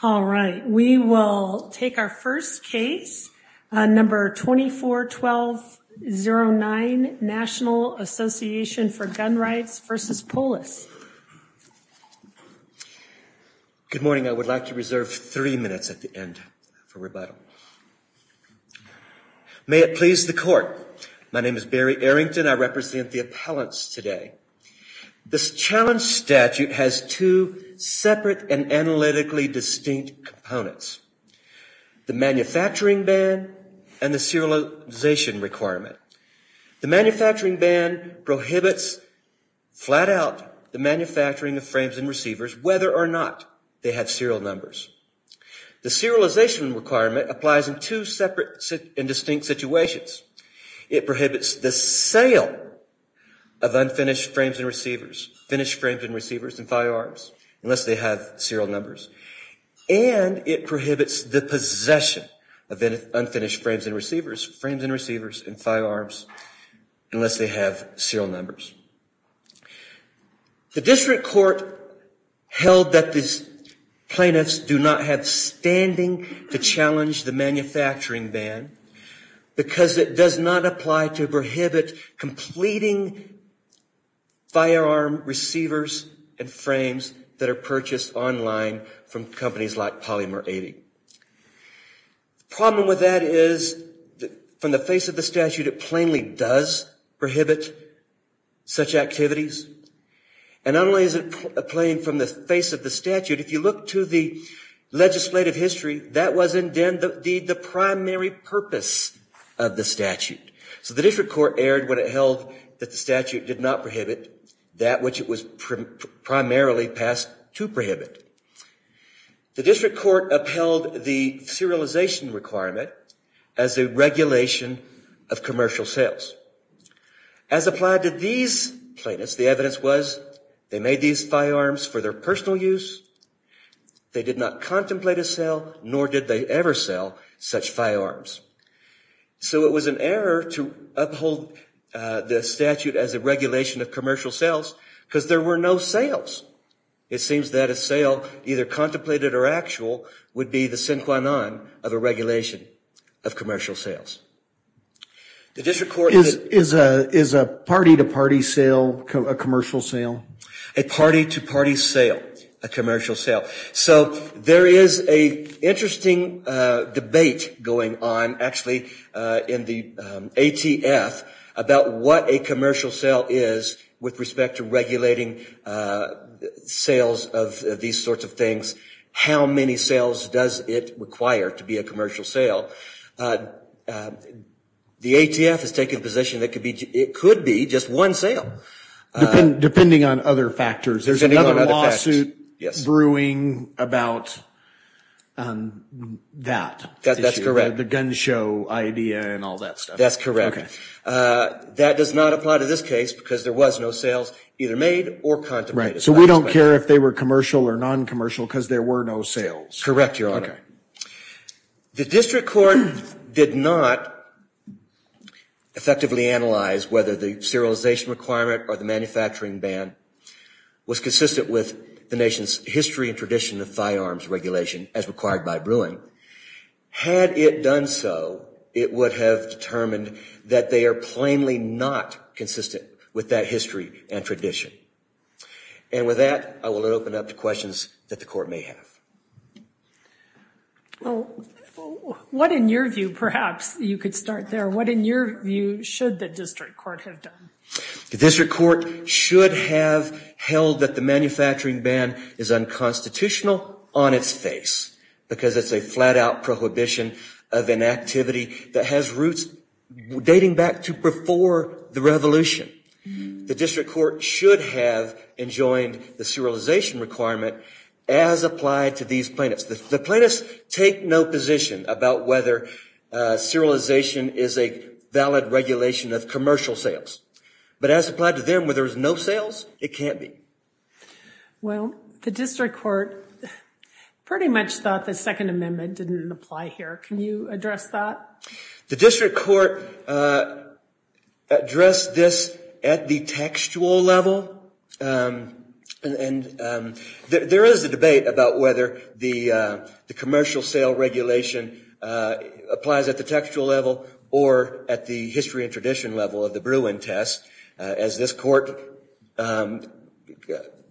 Good morning. I would like to reserve three minutes at the end for rebuttal. May it please the court. My name is Barry Arrington. I represent the appellants today. This challenge stems from the fact that gun violence is not just a criminal offense. This statute has two separate and analytically distinct components, the manufacturing ban and the serialization requirement. The manufacturing ban prohibits flat out the manufacturing of frames and receivers whether or not they have serial numbers. The serialization requirement applies in two separate and distinct situations. It prohibits the sale of unfinished frames and receivers, finished frames and receivers and firearms unless they have serial numbers. And it prohibits the possession of unfinished frames and receivers, frames and receivers and firearms unless they have serial numbers. The district court held that these plaintiffs do not have standing to challenge the manufacturing ban because it does not apply to prohibit completing firearm receivers and frames that are purchased online from companies like Polymer 80. The problem with that is, from the face of the statute, it plainly does prohibit such activities. And not only is it plain from the face of the statute, if you look to the legislative history, that was indeed the primary purpose of the statute. So the district court erred when it held that the statute did not prohibit that which it was primarily passed to prohibit. The district court upheld the serialization requirement as a regulation of commercial sales. As applied to these plaintiffs, the evidence was they made these firearms for their personal use. They did not contemplate a sale, nor did they ever sell such firearms. So it was an error to uphold the statute as a regulation of commercial sales because there were no sales. It seems that a sale, either contemplated or actual, would be the sine qua non of a regulation of commercial sales. Is a party-to-party sale a commercial sale? A party-to-party sale, a commercial sale. So there is an interesting debate going on, actually, in the ATF about what a commercial sale is with respect to regulating sales of these sorts of things. How many sales does it require to be a commercial sale? The ATF has taken a position that it could be just one sale. Depending on other factors. There's another lawsuit brewing about that. That's correct. The gun show idea and all that stuff. That's correct. That does not apply to this case because there was no sales either made or contemplated. So we don't care if they were commercial or non-commercial because there were no sales. Correct, Your Honor. The district court did not effectively analyze whether the serialization requirement or the manufacturing ban was consistent with the nation's history and tradition of firearms regulation as required by brewing. Had it done so, it would have determined that they are plainly not consistent with that history and tradition. And with that, I will open up to questions that the court may have. What, in your view, perhaps, you could start there. What, in your view, should the district court have done? The district court should have held that the manufacturing ban is unconstitutional on its face because it's a flat-out prohibition of an activity that has roots dating back to before the revolution. The district court should have enjoined the serialization requirement as applied to these plaintiffs. The plaintiffs take no position about whether serialization is a valid regulation of commercial sales. But as applied to them, where there was no sales, it can't be. Well, the district court pretty much thought the Second Amendment didn't apply here. Can you address that? The district court addressed this at the textual level. And there is a debate about whether the commercial sale regulation applies at the textual level or at the history and tradition level of the brewing test, as this court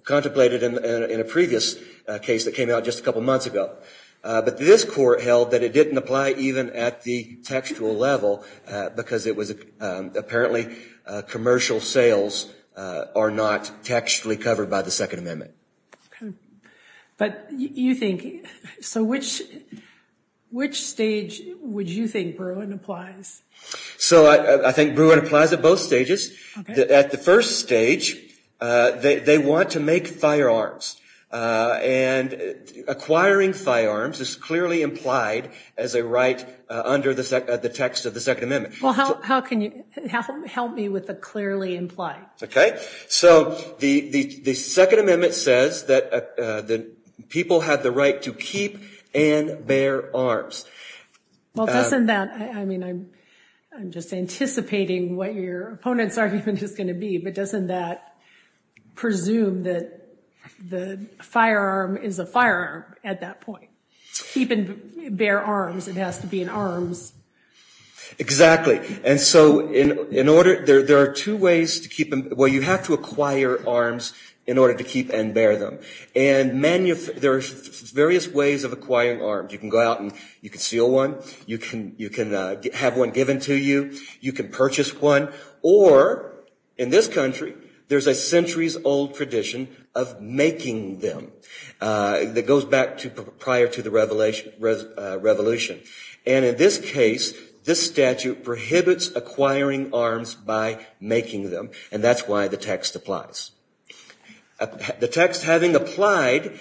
contemplated in a previous case that came out just a couple months ago. But this court held that it didn't apply even at the textual level because it was apparently commercial sales are not textually covered by the Second Amendment. But you think, so which stage would you think brewing applies? So I think brewing applies at both stages. At the first stage, they want to make firearms. And acquiring firearms is clearly implied as a right under the text of the Second Amendment. Well, how can you help me with the clearly implied? OK. So the Second Amendment says that people have the right to keep and bear arms. Well, doesn't that, I mean, I'm just anticipating what your opponent's argument is going to be. But doesn't that presume that the firearm is a firearm at that point? Keep and bear arms. It has to be in arms. Exactly. And so in order, there are two ways to keep them. Well, you have to acquire arms in order to keep and bear them. And there are various ways of acquiring arms. You can go out and you can steal one. You can have one given to you. You can purchase one. Or in this country, there's a centuries-old tradition of making them that goes back prior to the Revolution. And in this case, this statute prohibits acquiring arms by making them. And that's why the text applies. The text having applied,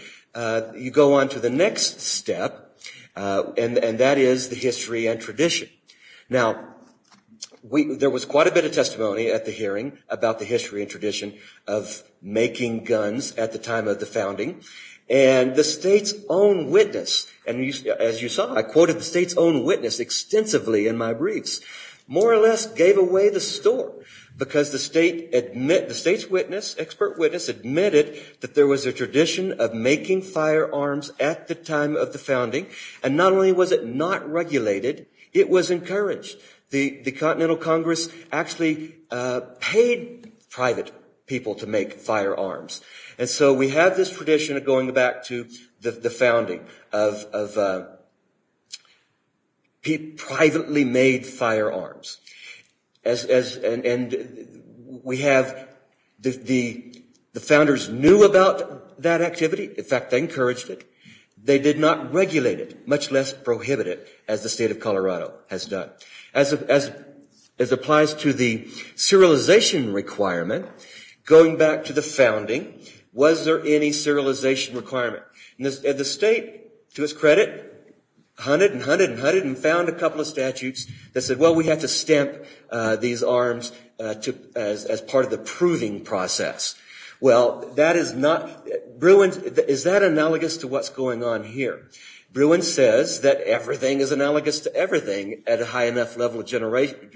you go on to the next step, and that is the history and tradition. Now, there was quite a bit of testimony at the hearing about the history and tradition of making guns at the time of the founding. And the state's own witness, and as you saw, I quoted the state's own witness extensively in my briefs, more or less gave away the story because the state's witness, expert witness, admitted that there was a tradition of making firearms at the time of the founding. And not only was it not regulated, it was encouraged. The Continental Congress actually paid private people to make firearms. And so we have this tradition of going back to the founding of privately made firearms. And we have the founders knew about that activity. In fact, they encouraged it. They did not regulate it, much less prohibit it, as the state of Colorado has done. As applies to the serialization requirement, going back to the founding, was there any serialization requirement? And the state, to its credit, hunted and hunted and hunted and found a couple of statutes that said, well, we have to stamp these arms as part of the proving process. Well, that is not, Bruin, is that analogous to what's going on here? Bruin says that everything is analogous to everything at a high enough level of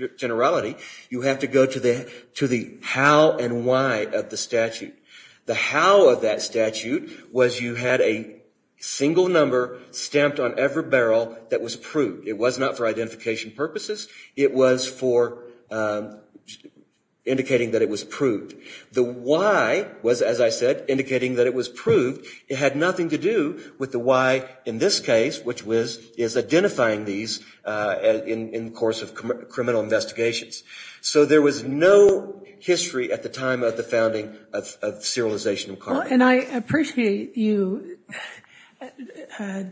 generality. You have to go to the how and why of the statute. The how of that statute was you had a single number stamped on every barrel that was proved. It was not for identification purposes. It was for indicating that it was proved. The why was, as I said, indicating that it was proved. It had nothing to do with the why in this case, which is identifying these in the course of criminal investigations. So there was no history at the time of the founding of serialization requirements. And I appreciate you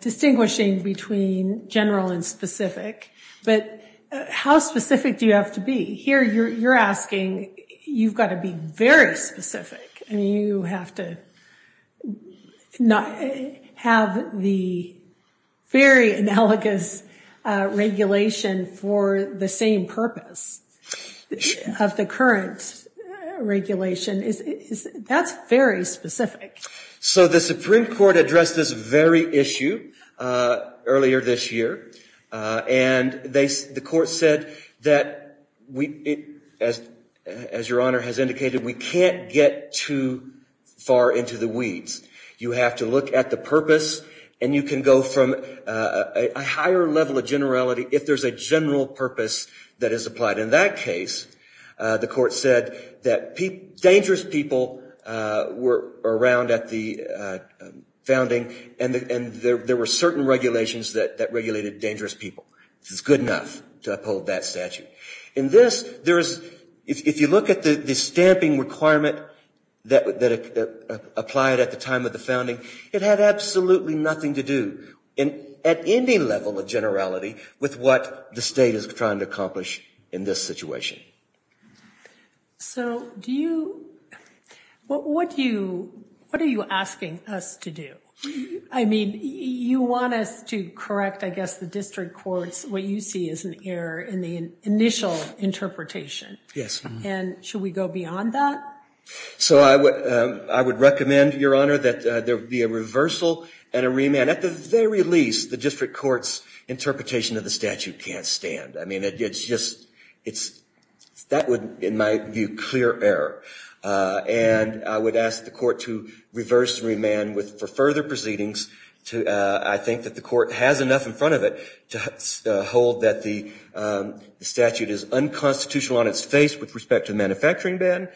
distinguishing between general and specific. But how specific do you have to be? Here you're asking, you've got to be very specific. I mean, you have to have the very analogous regulation for the same purpose of the current regulation. That's very specific. So the Supreme Court addressed this very issue earlier this year. And the court said that, as Your Honor has indicated, we can't get too far into the weeds. You have to look at the purpose. And you can go from a higher level of generality if there's a general purpose that is applied. In that case, the court said that dangerous people were around at the founding. And there were certain regulations that regulated dangerous people. This is good enough to uphold that statute. In this, if you look at the stamping requirement that applied at the time of the founding, it had absolutely nothing to do at any level of generality with what the state is trying to accomplish in this situation. So what are you asking us to do? I mean, you want us to correct, I guess, the district court's, what you see as an error in the initial interpretation. Yes. And should we go beyond that? So I would recommend, Your Honor, that there be a reversal and a remand. At the very least, the district court's interpretation of the statute can't stand. I mean, it's just, that would, in my view, clear error. And I would ask the court to reverse and remand for further proceedings. I think that the court has enough in front of it to hold that the statute is unconstitutional on its face with respect to the manufacturing ban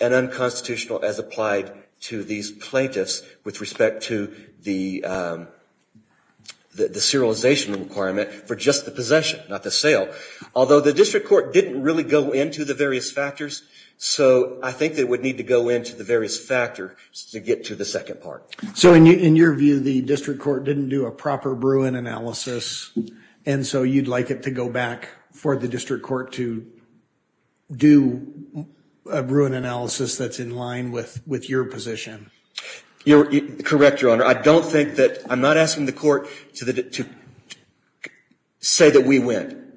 and unconstitutional as applied to these plaintiffs with respect to the serialization requirement for just the possession, not the sale. Although the district court didn't really go into the various factors, so I think they would need to go into the various factors to get to the second part. So in your view, the district court didn't do a proper Bruin analysis, and so you'd like it to go back for the district court to do a Bruin analysis that's in line with your position? Correct, Your Honor. I don't think that, I'm not asking the court to say that we win.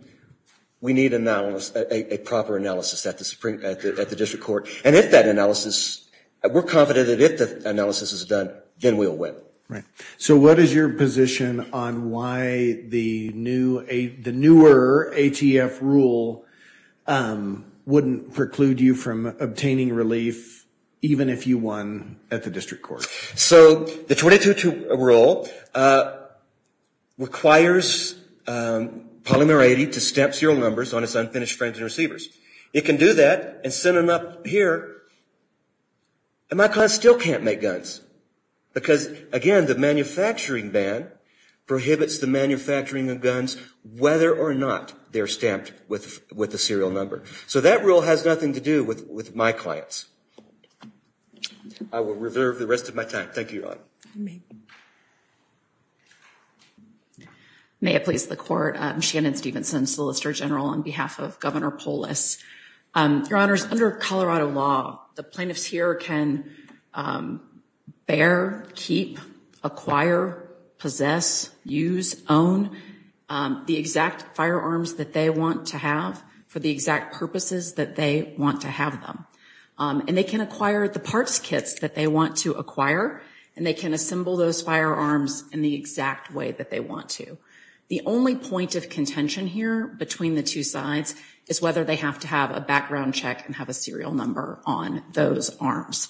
We need a proper analysis at the district court. And if that analysis, we're confident that if the analysis is done, then we'll win. Right. So what is your position on why the newer ATF rule wouldn't preclude you from obtaining relief even if you won at the district court? So the 22-2 rule requires Polymer 80 to stamp serial numbers on its unfinished friends and receivers. It can do that and send them up here, and my client still can't make guns. Because, again, the manufacturing ban prohibits the manufacturing of guns, whether or not they're stamped with a serial number. So that rule has nothing to do with my clients. I will reserve the rest of my time. Thank you, Your Honor. Thank you. Thank you. May it please the court. I'm Shannon Stevenson, Solicitor General on behalf of Governor Polis. Your Honors, under Colorado law, the plaintiffs here can bear, keep, acquire, possess, use, own the exact firearms that they want to have for the exact purposes that they want to have them. And they can acquire the parts kits that they want to acquire, and they can assemble those firearms in the exact way that they want to. The only point of contention here between the two sides is whether they have to have a background check and have a serial number on those arms.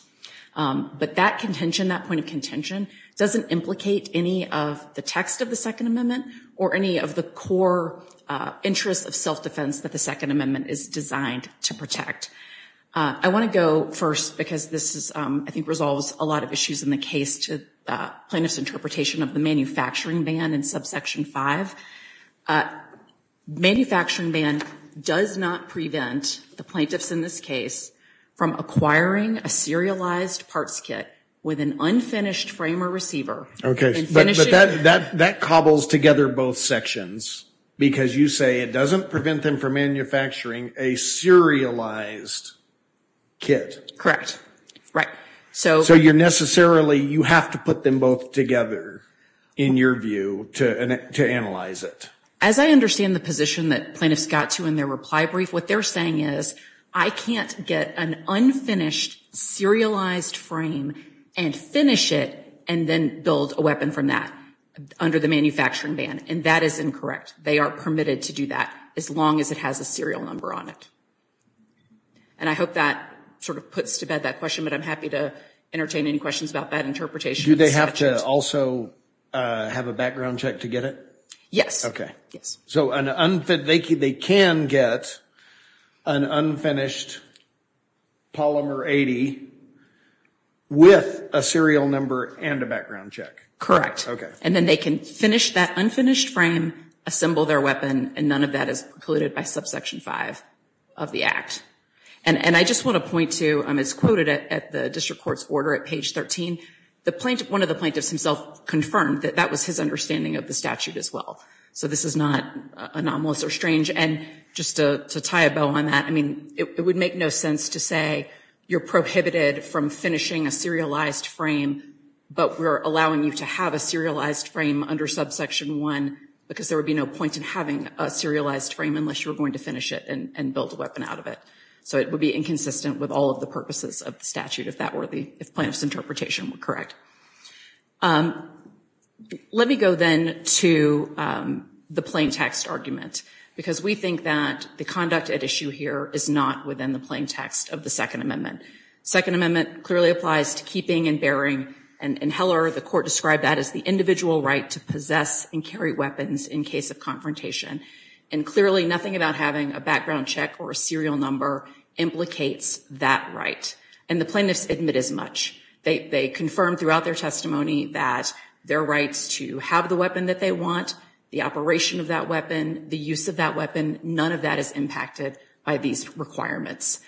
But that contention, that point of contention, doesn't implicate any of the text of the Second Amendment or any of the core interests of self-defense that the Second Amendment is designed to protect. I want to go first because this, I think, resolves a lot of issues in the case to plaintiffs' interpretation of the manufacturing ban in subsection 5. Manufacturing ban does not prevent the plaintiffs in this case from acquiring a serialized parts kit with an unfinished frame or receiver. Okay, but that cobbles together both sections because you say it doesn't prevent them from manufacturing a serialized kit. Correct. Right. So you're necessarily, you have to put them both together in your view to analyze it. As I understand the position that plaintiffs got to in their reply brief, what they're saying is, I can't get an unfinished serialized frame and finish it and then build a weapon from that under the manufacturing ban. And that is incorrect. They are permitted to do that as long as it has a serial number on it. And I hope that sort of puts to bed that question, but I'm happy to entertain any questions about that interpretation. Do they have to also have a background check to get it? Yes. Okay. So they can get an unfinished polymer 80 with a serial number and a background check. Correct. And then they can finish that unfinished frame, assemble their weapon, and none of that is precluded by subsection 5 of the act. And I just want to point to, as quoted at the district court's order at page 13, one of the plaintiffs himself confirmed that that was his understanding of the statute as well. So this is not anomalous or strange. And just to tie a bow on that, I mean, it would make no sense to say you're prohibited from finishing a serialized frame, but we're allowing you to have a serialized frame under subsection 1, because there would be no point in having a serialized frame unless you were going to finish it and build a weapon out of it. So it would be inconsistent with all of the purposes of the statute, if plaintiff's interpretation were correct. Let me go then to the plaintext argument, because we think that the conduct at issue here is not within the plaintext of the Second Amendment. Second Amendment clearly applies to keeping and bearing, and in Heller the court described that as the individual right to possess and carry weapons in case of confrontation. And clearly nothing about having a background check or a serial number implicates that right. And the plaintiffs admit as much. They confirm throughout their testimony that their rights to have the weapon that they want, the operation of that weapon, the use of that weapon, none of that is impacted by these requirements.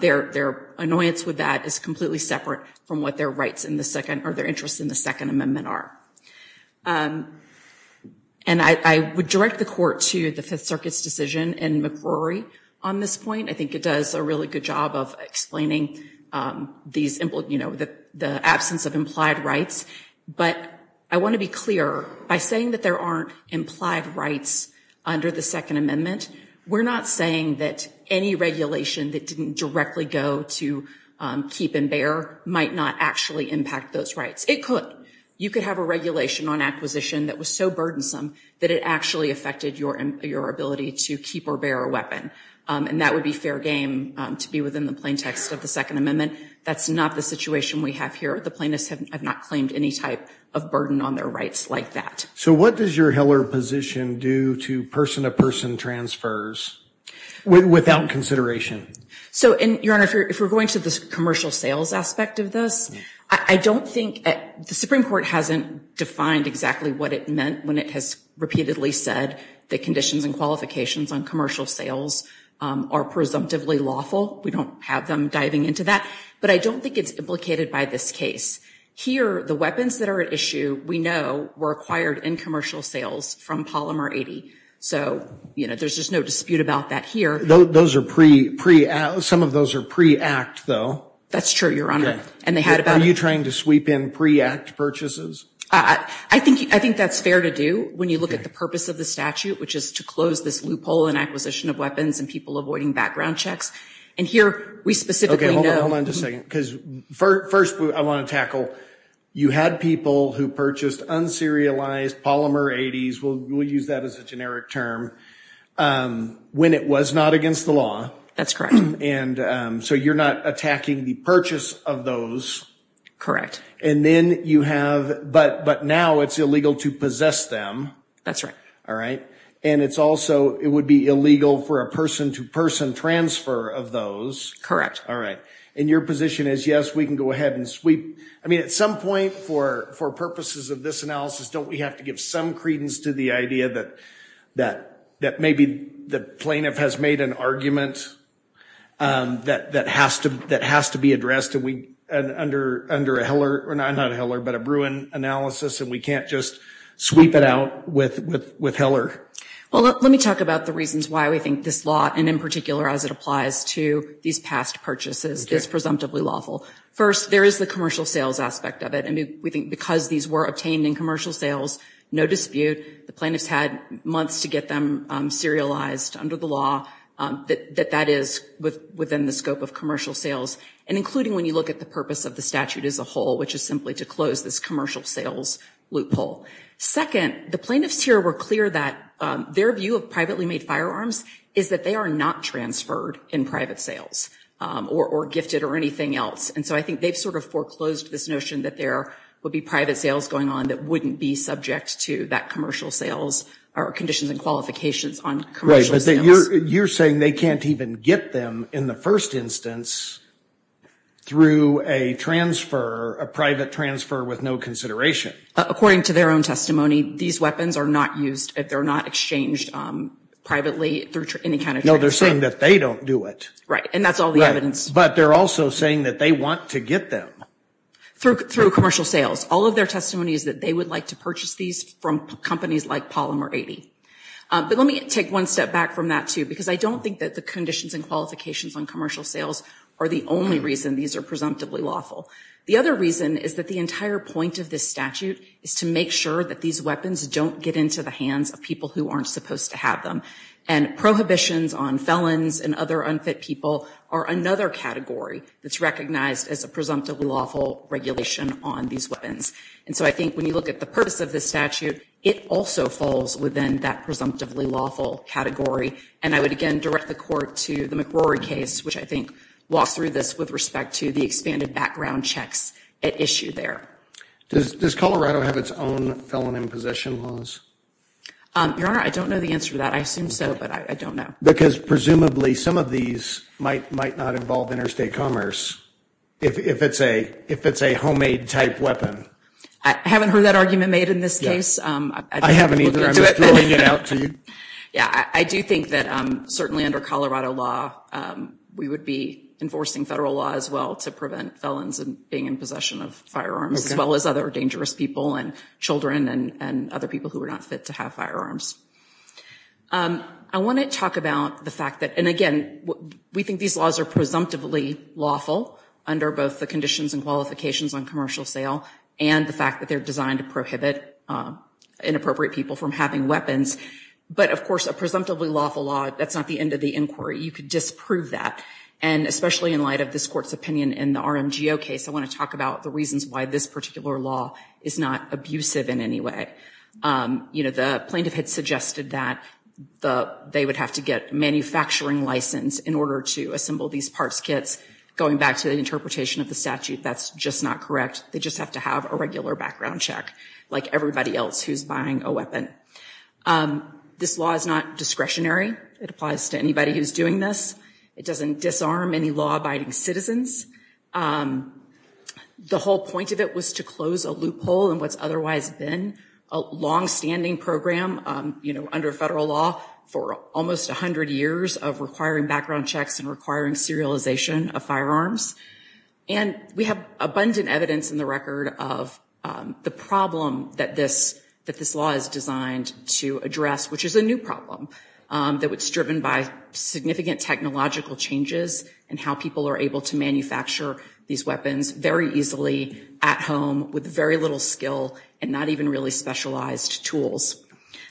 Their annoyance with that is completely separate from what their rights in the Second, or their interests in the Second Amendment are. And I would direct the court to the Fifth Circuit's decision in McRory on this point. I think it does a really good job of explaining these, you know, the absence of implied rights. But I want to be clear, by saying that there aren't implied rights under the Second Amendment, we're not saying that any regulation that didn't directly go to keep and bear might not actually impact those rights. It could. You could have a regulation on acquisition that was so burdensome that it actually affected your ability to keep or bear a weapon. And that would be fair game to be within the plaintext of the Second Amendment. That's not the situation we have here. The plaintiffs have not claimed any type of burden on their rights like that. So what does your Heller position do to person-to-person transfers without consideration? So, Your Honor, if we're going to the commercial sales aspect of this, I don't think the Supreme Court hasn't defined exactly what it meant when it has repeatedly said that conditions and qualifications on commercial sales are presumptively lawful. We don't have them diving into that. But I don't think it's implicated by this case. Here, the weapons that are at issue, we know, were acquired in commercial sales from Polymer 80. So, you know, there's just no dispute about that here. Some of those are pre-act, though. That's true, Your Honor. Are you trying to sweep in pre-act purchases? I think that's fair to do when you look at the purpose of the statute, which is to close this loophole in acquisition of weapons and people avoiding background checks. And here we specifically know... Okay, hold on just a second, because first I want to tackle, you had people who purchased un-serialized Polymer 80s, we'll use that as a generic term, when it was not against the law. That's correct. And so you're not attacking the purchase of those. Correct. And then you have, but now it's illegal to possess them. That's right. All right. And it's also, it would be illegal for a person-to-person transfer of those. All right. And your position is, yes, we can go ahead and sweep. I mean, at some point, for purposes of this analysis, don't we have to give some credence to the idea that maybe the plaintiff has made an argument that has to be addressed under a Heller, or not a Heller, but a Bruin analysis, and we can't just sweep it out with Heller? Well, let me talk about the reasons why we think this law, and in particular as it applies to these past purchases, is presumptively lawful. First, there is the commercial sales aspect of it. And we think because these were obtained in commercial sales, no dispute, the plaintiff's had months to get them serialized under the law, that that is within the scope of commercial sales. And including when you look at the purpose of the statute as a whole, which is simply to close this commercial sales loophole. Second, the plaintiffs here were clear that their view of privately made firearms is that they are not transferred in private sales, or gifted, or anything else. And so I think they've sort of foreclosed this notion that there would be private sales going on that wouldn't be subject to that commercial sales, or conditions and qualifications on commercial sales. So you're saying they can't even get them in the first instance through a transfer, a private transfer with no consideration? According to their own testimony, these weapons are not used, they're not exchanged privately through any kind of transfer. No, they're saying that they don't do it. Right, and that's all the evidence. But they're also saying that they want to get them. Through commercial sales. All of their testimony is that they would like to purchase these from companies like Polymer 80. But let me take one step back from that too, because I don't think that the conditions and qualifications on commercial sales are the only reason these are presumptively lawful. The other reason is that the entire point of this statute is to make sure that these weapons don't get into the hands of people who aren't supposed to have them. And prohibitions on felons and other unfit people are another category that's recognized as a presumptively lawful regulation on these weapons. And so I think when you look at the purpose of this statute, it also falls within that presumptively lawful category. And I would again direct the court to the McRory case, which I think walks through this with respect to the expanded background checks at issue there. Does Colorado have its own felon and possession laws? Your Honor, I don't know the answer to that. I assume so, but I don't know. Because presumably some of these might not involve interstate commerce if it's a homemade type weapon. I haven't heard that argument made in this case. I haven't either. I'm just throwing it out to you. Yeah, I do think that certainly under Colorado law, we would be enforcing federal law as well to prevent felons from being in possession of firearms, as well as other dangerous people and children and other people who are not fit to have firearms. I want to talk about the fact that, and again, we think these laws are presumptively lawful under both the conditions and qualifications on commercial sale and the fact that they're designed to prohibit inappropriate people from having weapons. But, of course, a presumptively lawful law, that's not the end of the inquiry. You could disprove that. And especially in light of this Court's opinion in the RMGO case, I want to talk about the reasons why this particular law is not abusive in any way. You know, the plaintiff had suggested that they would have to get a manufacturing license in order to assemble these parts kits. Going back to the interpretation of the statute, that's just not correct. They just have to have a regular background check, like everybody else who's buying a weapon. This law is not discretionary. It applies to anybody who's doing this. It doesn't disarm any law-abiding citizens. The whole point of it was to close a loophole in what's otherwise been a longstanding program, you know, under federal law, for almost 100 years of requiring background checks and requiring serialization of firearms. And we have abundant evidence in the record of the problem that this law is designed to address, which is a new problem that was driven by significant technological changes and how people are able to manufacture these weapons very easily at home with very little skill and not even really specialized tools.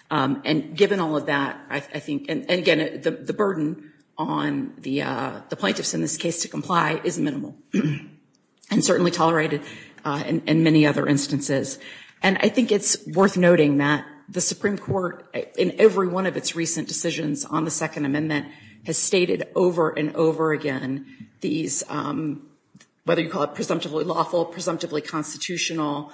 And given all of that, I think, and again, the burden on the plaintiffs in this case to comply is minimal and certainly tolerated in many other instances. And I think it's worth noting that the Supreme Court, in every one of its recent decisions on the Second Amendment, has stated over and over again these, whether you call it presumptively lawful, presumptively constitutional,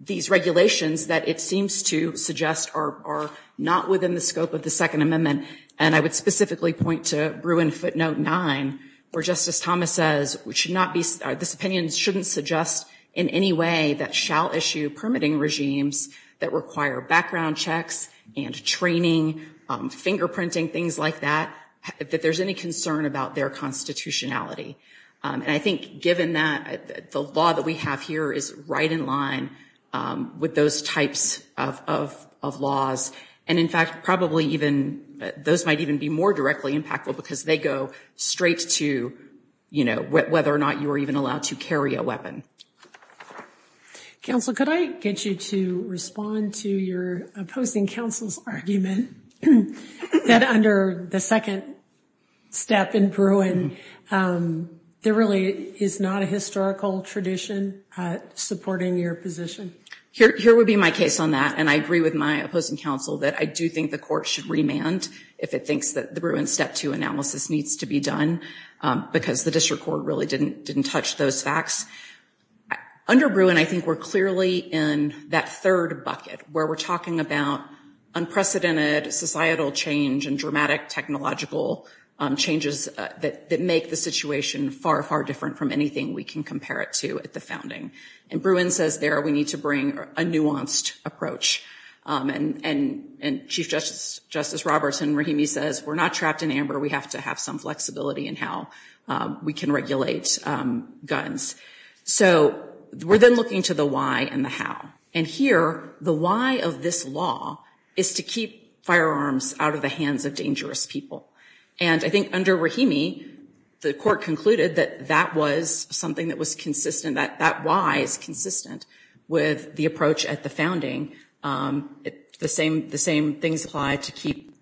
these regulations that it seems to suggest are not within the scope of the Second Amendment. And I would specifically point to Bruin footnote 9, where Justice Thomas says, this opinion shouldn't suggest in any way that shall issue permitting regimes that require background checks and training, fingerprinting, things like that, that there's any concern about their constitutionality. And I think given that, the law that we have here is right in line with those types of laws. And in fact, probably even those might even be more directly impactful because they go straight to, you know, whether or not you are even allowed to carry a weapon. Counsel, could I get you to respond to your opposing counsel's argument that under the second step in Bruin, there really is not a historical tradition supporting your position? Here would be my case on that. And I agree with my opposing counsel that I do think the court should remand if it thinks that the Bruin Step 2 analysis needs to be done, because the district court really didn't touch those facts. Under Bruin, I think we're clearly in that third bucket where we're talking about unprecedented societal change and dramatic technological changes that make the situation far, far different from anything we can compare it to at the founding. And Bruin says there we need to bring a nuanced approach. And Chief Justice Robertson-Rahimi says we're not trapped in amber. We have to have some flexibility in how we can regulate guns. So we're then looking to the why and the how. And here, the why of this law is to keep firearms out of the hands of dangerous people. And I think under Rahimi, the court concluded that that was something that was consistent, that that why is consistent with the approach at the founding. The same things apply to keep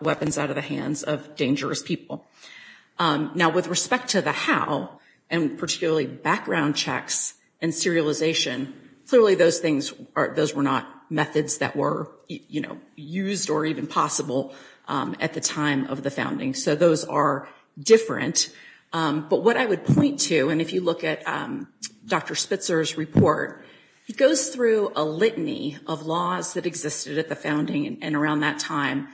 weapons out of the hands of dangerous people. Now, with respect to the how, and particularly background checks and serialization, clearly those things were not methods that were used or even possible at the time of the founding. So those are different. But what I would point to, and if you look at Dr. Spitzer's report, he goes through a litany of laws that existed at the founding and around that time.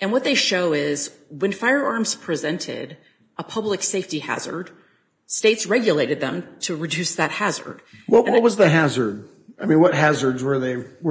And what they show is when firearms presented a public safety hazard, states regulated them to reduce that hazard. What was the hazard? I mean, what hazards were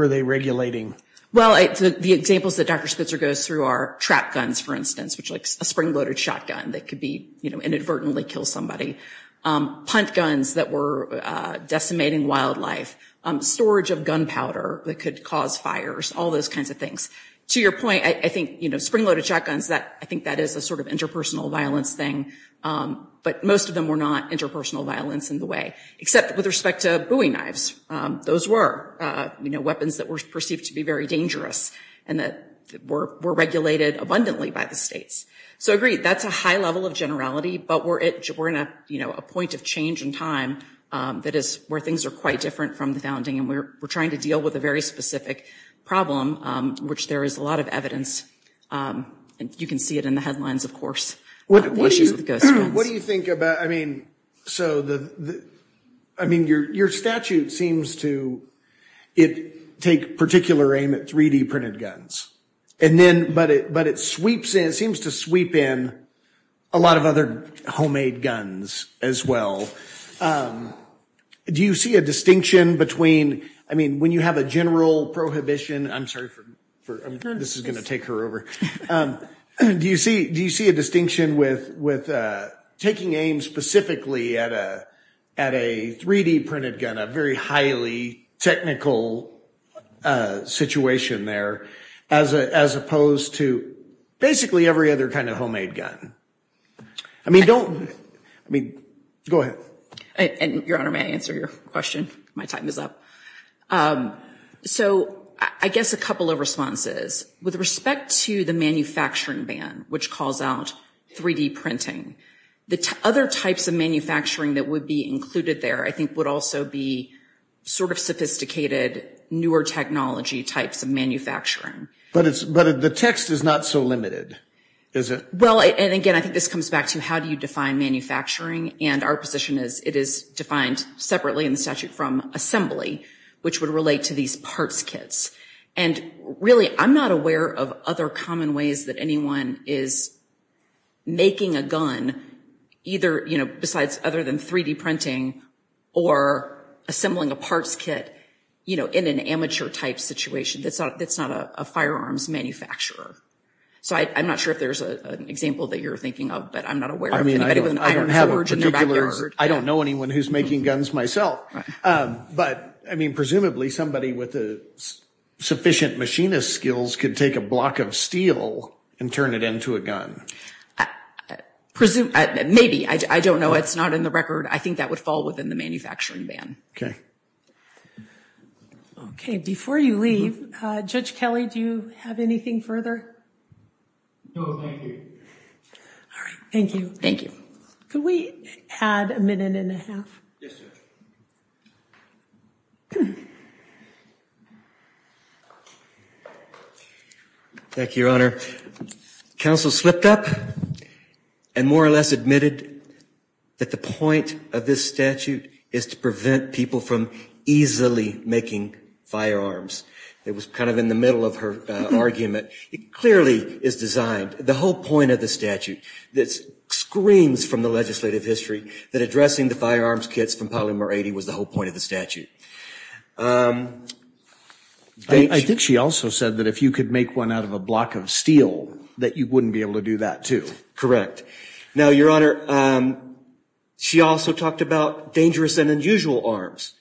they regulating? Well, the examples that Dr. Spitzer goes through are trap guns, for instance, which like a spring-loaded shotgun that could inadvertently kill somebody, punt guns that were decimating wildlife, storage of gunpowder that could cause fires, all those kinds of things. To your point, I think spring-loaded shotguns, I think that is a sort of interpersonal violence thing. But most of them were not interpersonal violence in the way, except with respect to bowie knives. Those were weapons that were perceived to be very dangerous and that were regulated abundantly by the states. So, agreed, that's a high level of generality, but we're at a point of change in time where things are quite different from the founding, and we're trying to deal with a very specific problem, which there is a lot of evidence. You can see it in the headlines, of course, the issues with the ghost guns. What do you think about, I mean, your statute seems to take particular aim at 3D printed guns, but it seems to sweep in a lot of other homemade guns as well. Do you see a distinction between, I mean, when you have a general prohibition, I'm sorry, this is going to take her over. Do you see a distinction with taking aim specifically at a 3D printed gun, a very highly technical situation there, as opposed to basically every other kind of homemade gun? I mean, go ahead. Your Honor, may I answer your question? My time is up. So, I guess a couple of responses. With respect to the manufacturing ban, which calls out 3D printing, the other types of manufacturing that would be included there, I think, would also be sort of sophisticated, newer technology types of manufacturing. But the text is not so limited, is it? Well, and again, I think this comes back to how do you define manufacturing, and our position is it is defined separately in the statute from assembly, which would relate to these parts kits. And really, I'm not aware of other common ways that anyone is making a gun, either besides other than 3D printing or assembling a parts kit in an amateur type situation that's not a firearms manufacturer. So I'm not sure if there's an example that you're thinking of, but I'm not aware of anybody with an iron forge in their backyard. I don't know anyone who's making guns myself. But, I mean, presumably somebody with sufficient machinist skills could take a block of steel and turn it into a gun. Maybe. I don't know. It's not in the record. I think that would fall within the manufacturing ban. Okay, before you leave, Judge Kelly, do you have anything further? No, thank you. All right, thank you. Thank you. Could we add a minute and a half? Yes, Judge. Thank you, Your Honor. Counsel slipped up and more or less admitted that the point of this statute is to prevent people from easily making firearms. It was kind of in the middle of her argument. It clearly is designed, the whole point of the statute, that screams from the legislative history that addressing the firearms kits from Polymer 80 was the whole point of the statute. I think she also said that if you could make one out of a block of steel that you wouldn't be able to do that, too. Correct. Now, Your Honor, she also talked about dangerous and unusual arms.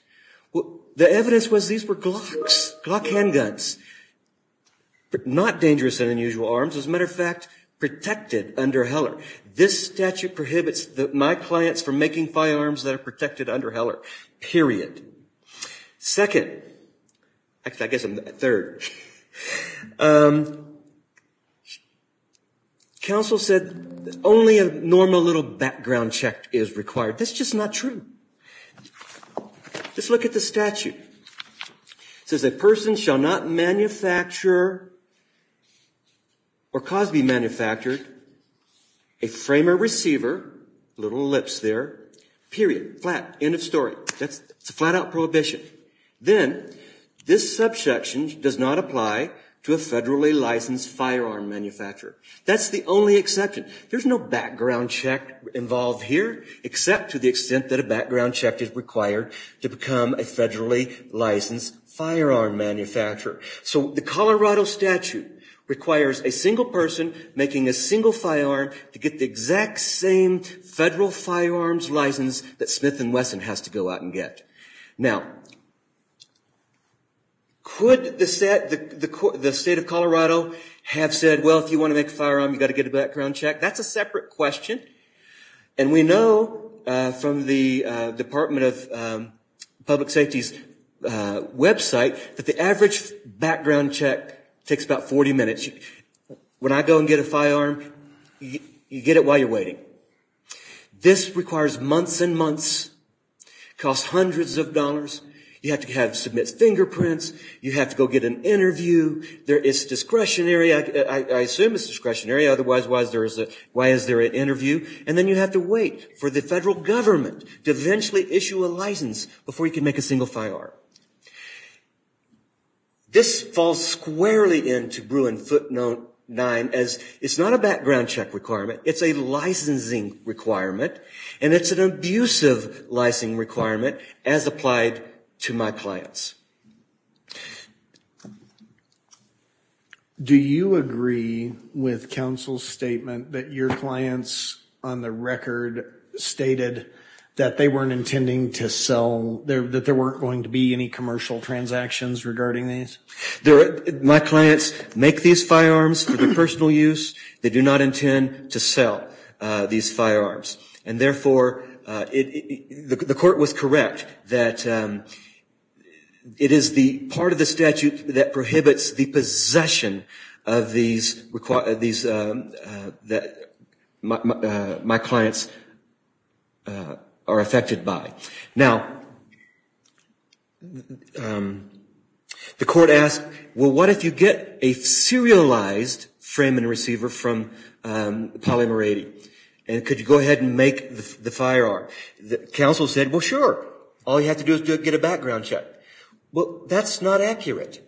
The evidence was these were Glocks, Glock handguns, but not dangerous and unusual arms. As a matter of fact, protected under Heller. This statute prohibits my clients from making firearms that are protected under Heller, period. Second, actually, I guess I'm third. Counsel said only a normal little background check is required. That's just not true. Just look at the statute. It says a person shall not manufacture or cause to be manufactured a frame or receiver, little ellipse there, period, flat, end of story. That's a flat-out prohibition. Then, this subsection does not apply to a federally licensed firearm manufacturer. That's the only exception. There's no background check involved here, except to the extent that a background check is required to become a federally licensed firearm manufacturer. So the Colorado statute requires a single person making a single firearm to get the exact same federal firearms license that Smith & Wesson has to go out and get. Now, could the state of Colorado have said, well, if you want to make a firearm, you've got to get a background check? That's a separate question. And we know from the Department of Public Safety's website that the average background check takes about 40 minutes. When I go and get a firearm, you get it while you're waiting. This requires months and months, costs hundreds of dollars. You have to submit fingerprints. You have to go get an interview. It's discretionary. I assume it's discretionary. Otherwise, why is there an interview? And then you have to wait for the federal government to eventually issue a license before you can make a single firearm. This falls squarely into Bruin footnote 9 as it's not a background check requirement. It's a licensing requirement, and it's an abusive licensing requirement as applied to my clients. Do you agree with counsel's statement that your clients on the record stated that they weren't intending to sell, that there weren't going to be any commercial transactions regarding these? My clients make these firearms for their personal use. They do not intend to sell these firearms. And therefore, the court was correct that it is the part of the statute that prohibits the possession of these that my clients are affected by. Now, the court asked, well, what if you get a serialized frame and receiver from Polymer 80? And could you go ahead and make the firearm? The counsel said, well, sure. All you have to do is get a background check. Well, that's not accurate.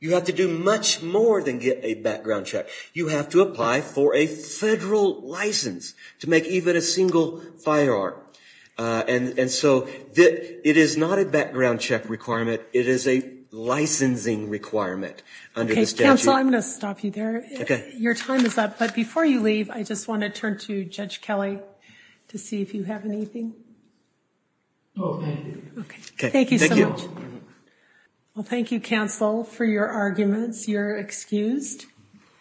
You have to do much more than get a background check. You have to apply for a federal license to make even a single firearm. And so it is not a background check requirement. It is a licensing requirement under the statute. Okay, counsel, I'm going to stop you there. Your time is up, but before you leave, I just want to turn to Judge Kelly to see if you have anything. No, thank you. Okay, thank you so much. Well, thank you, counsel, for your arguments. You're excused.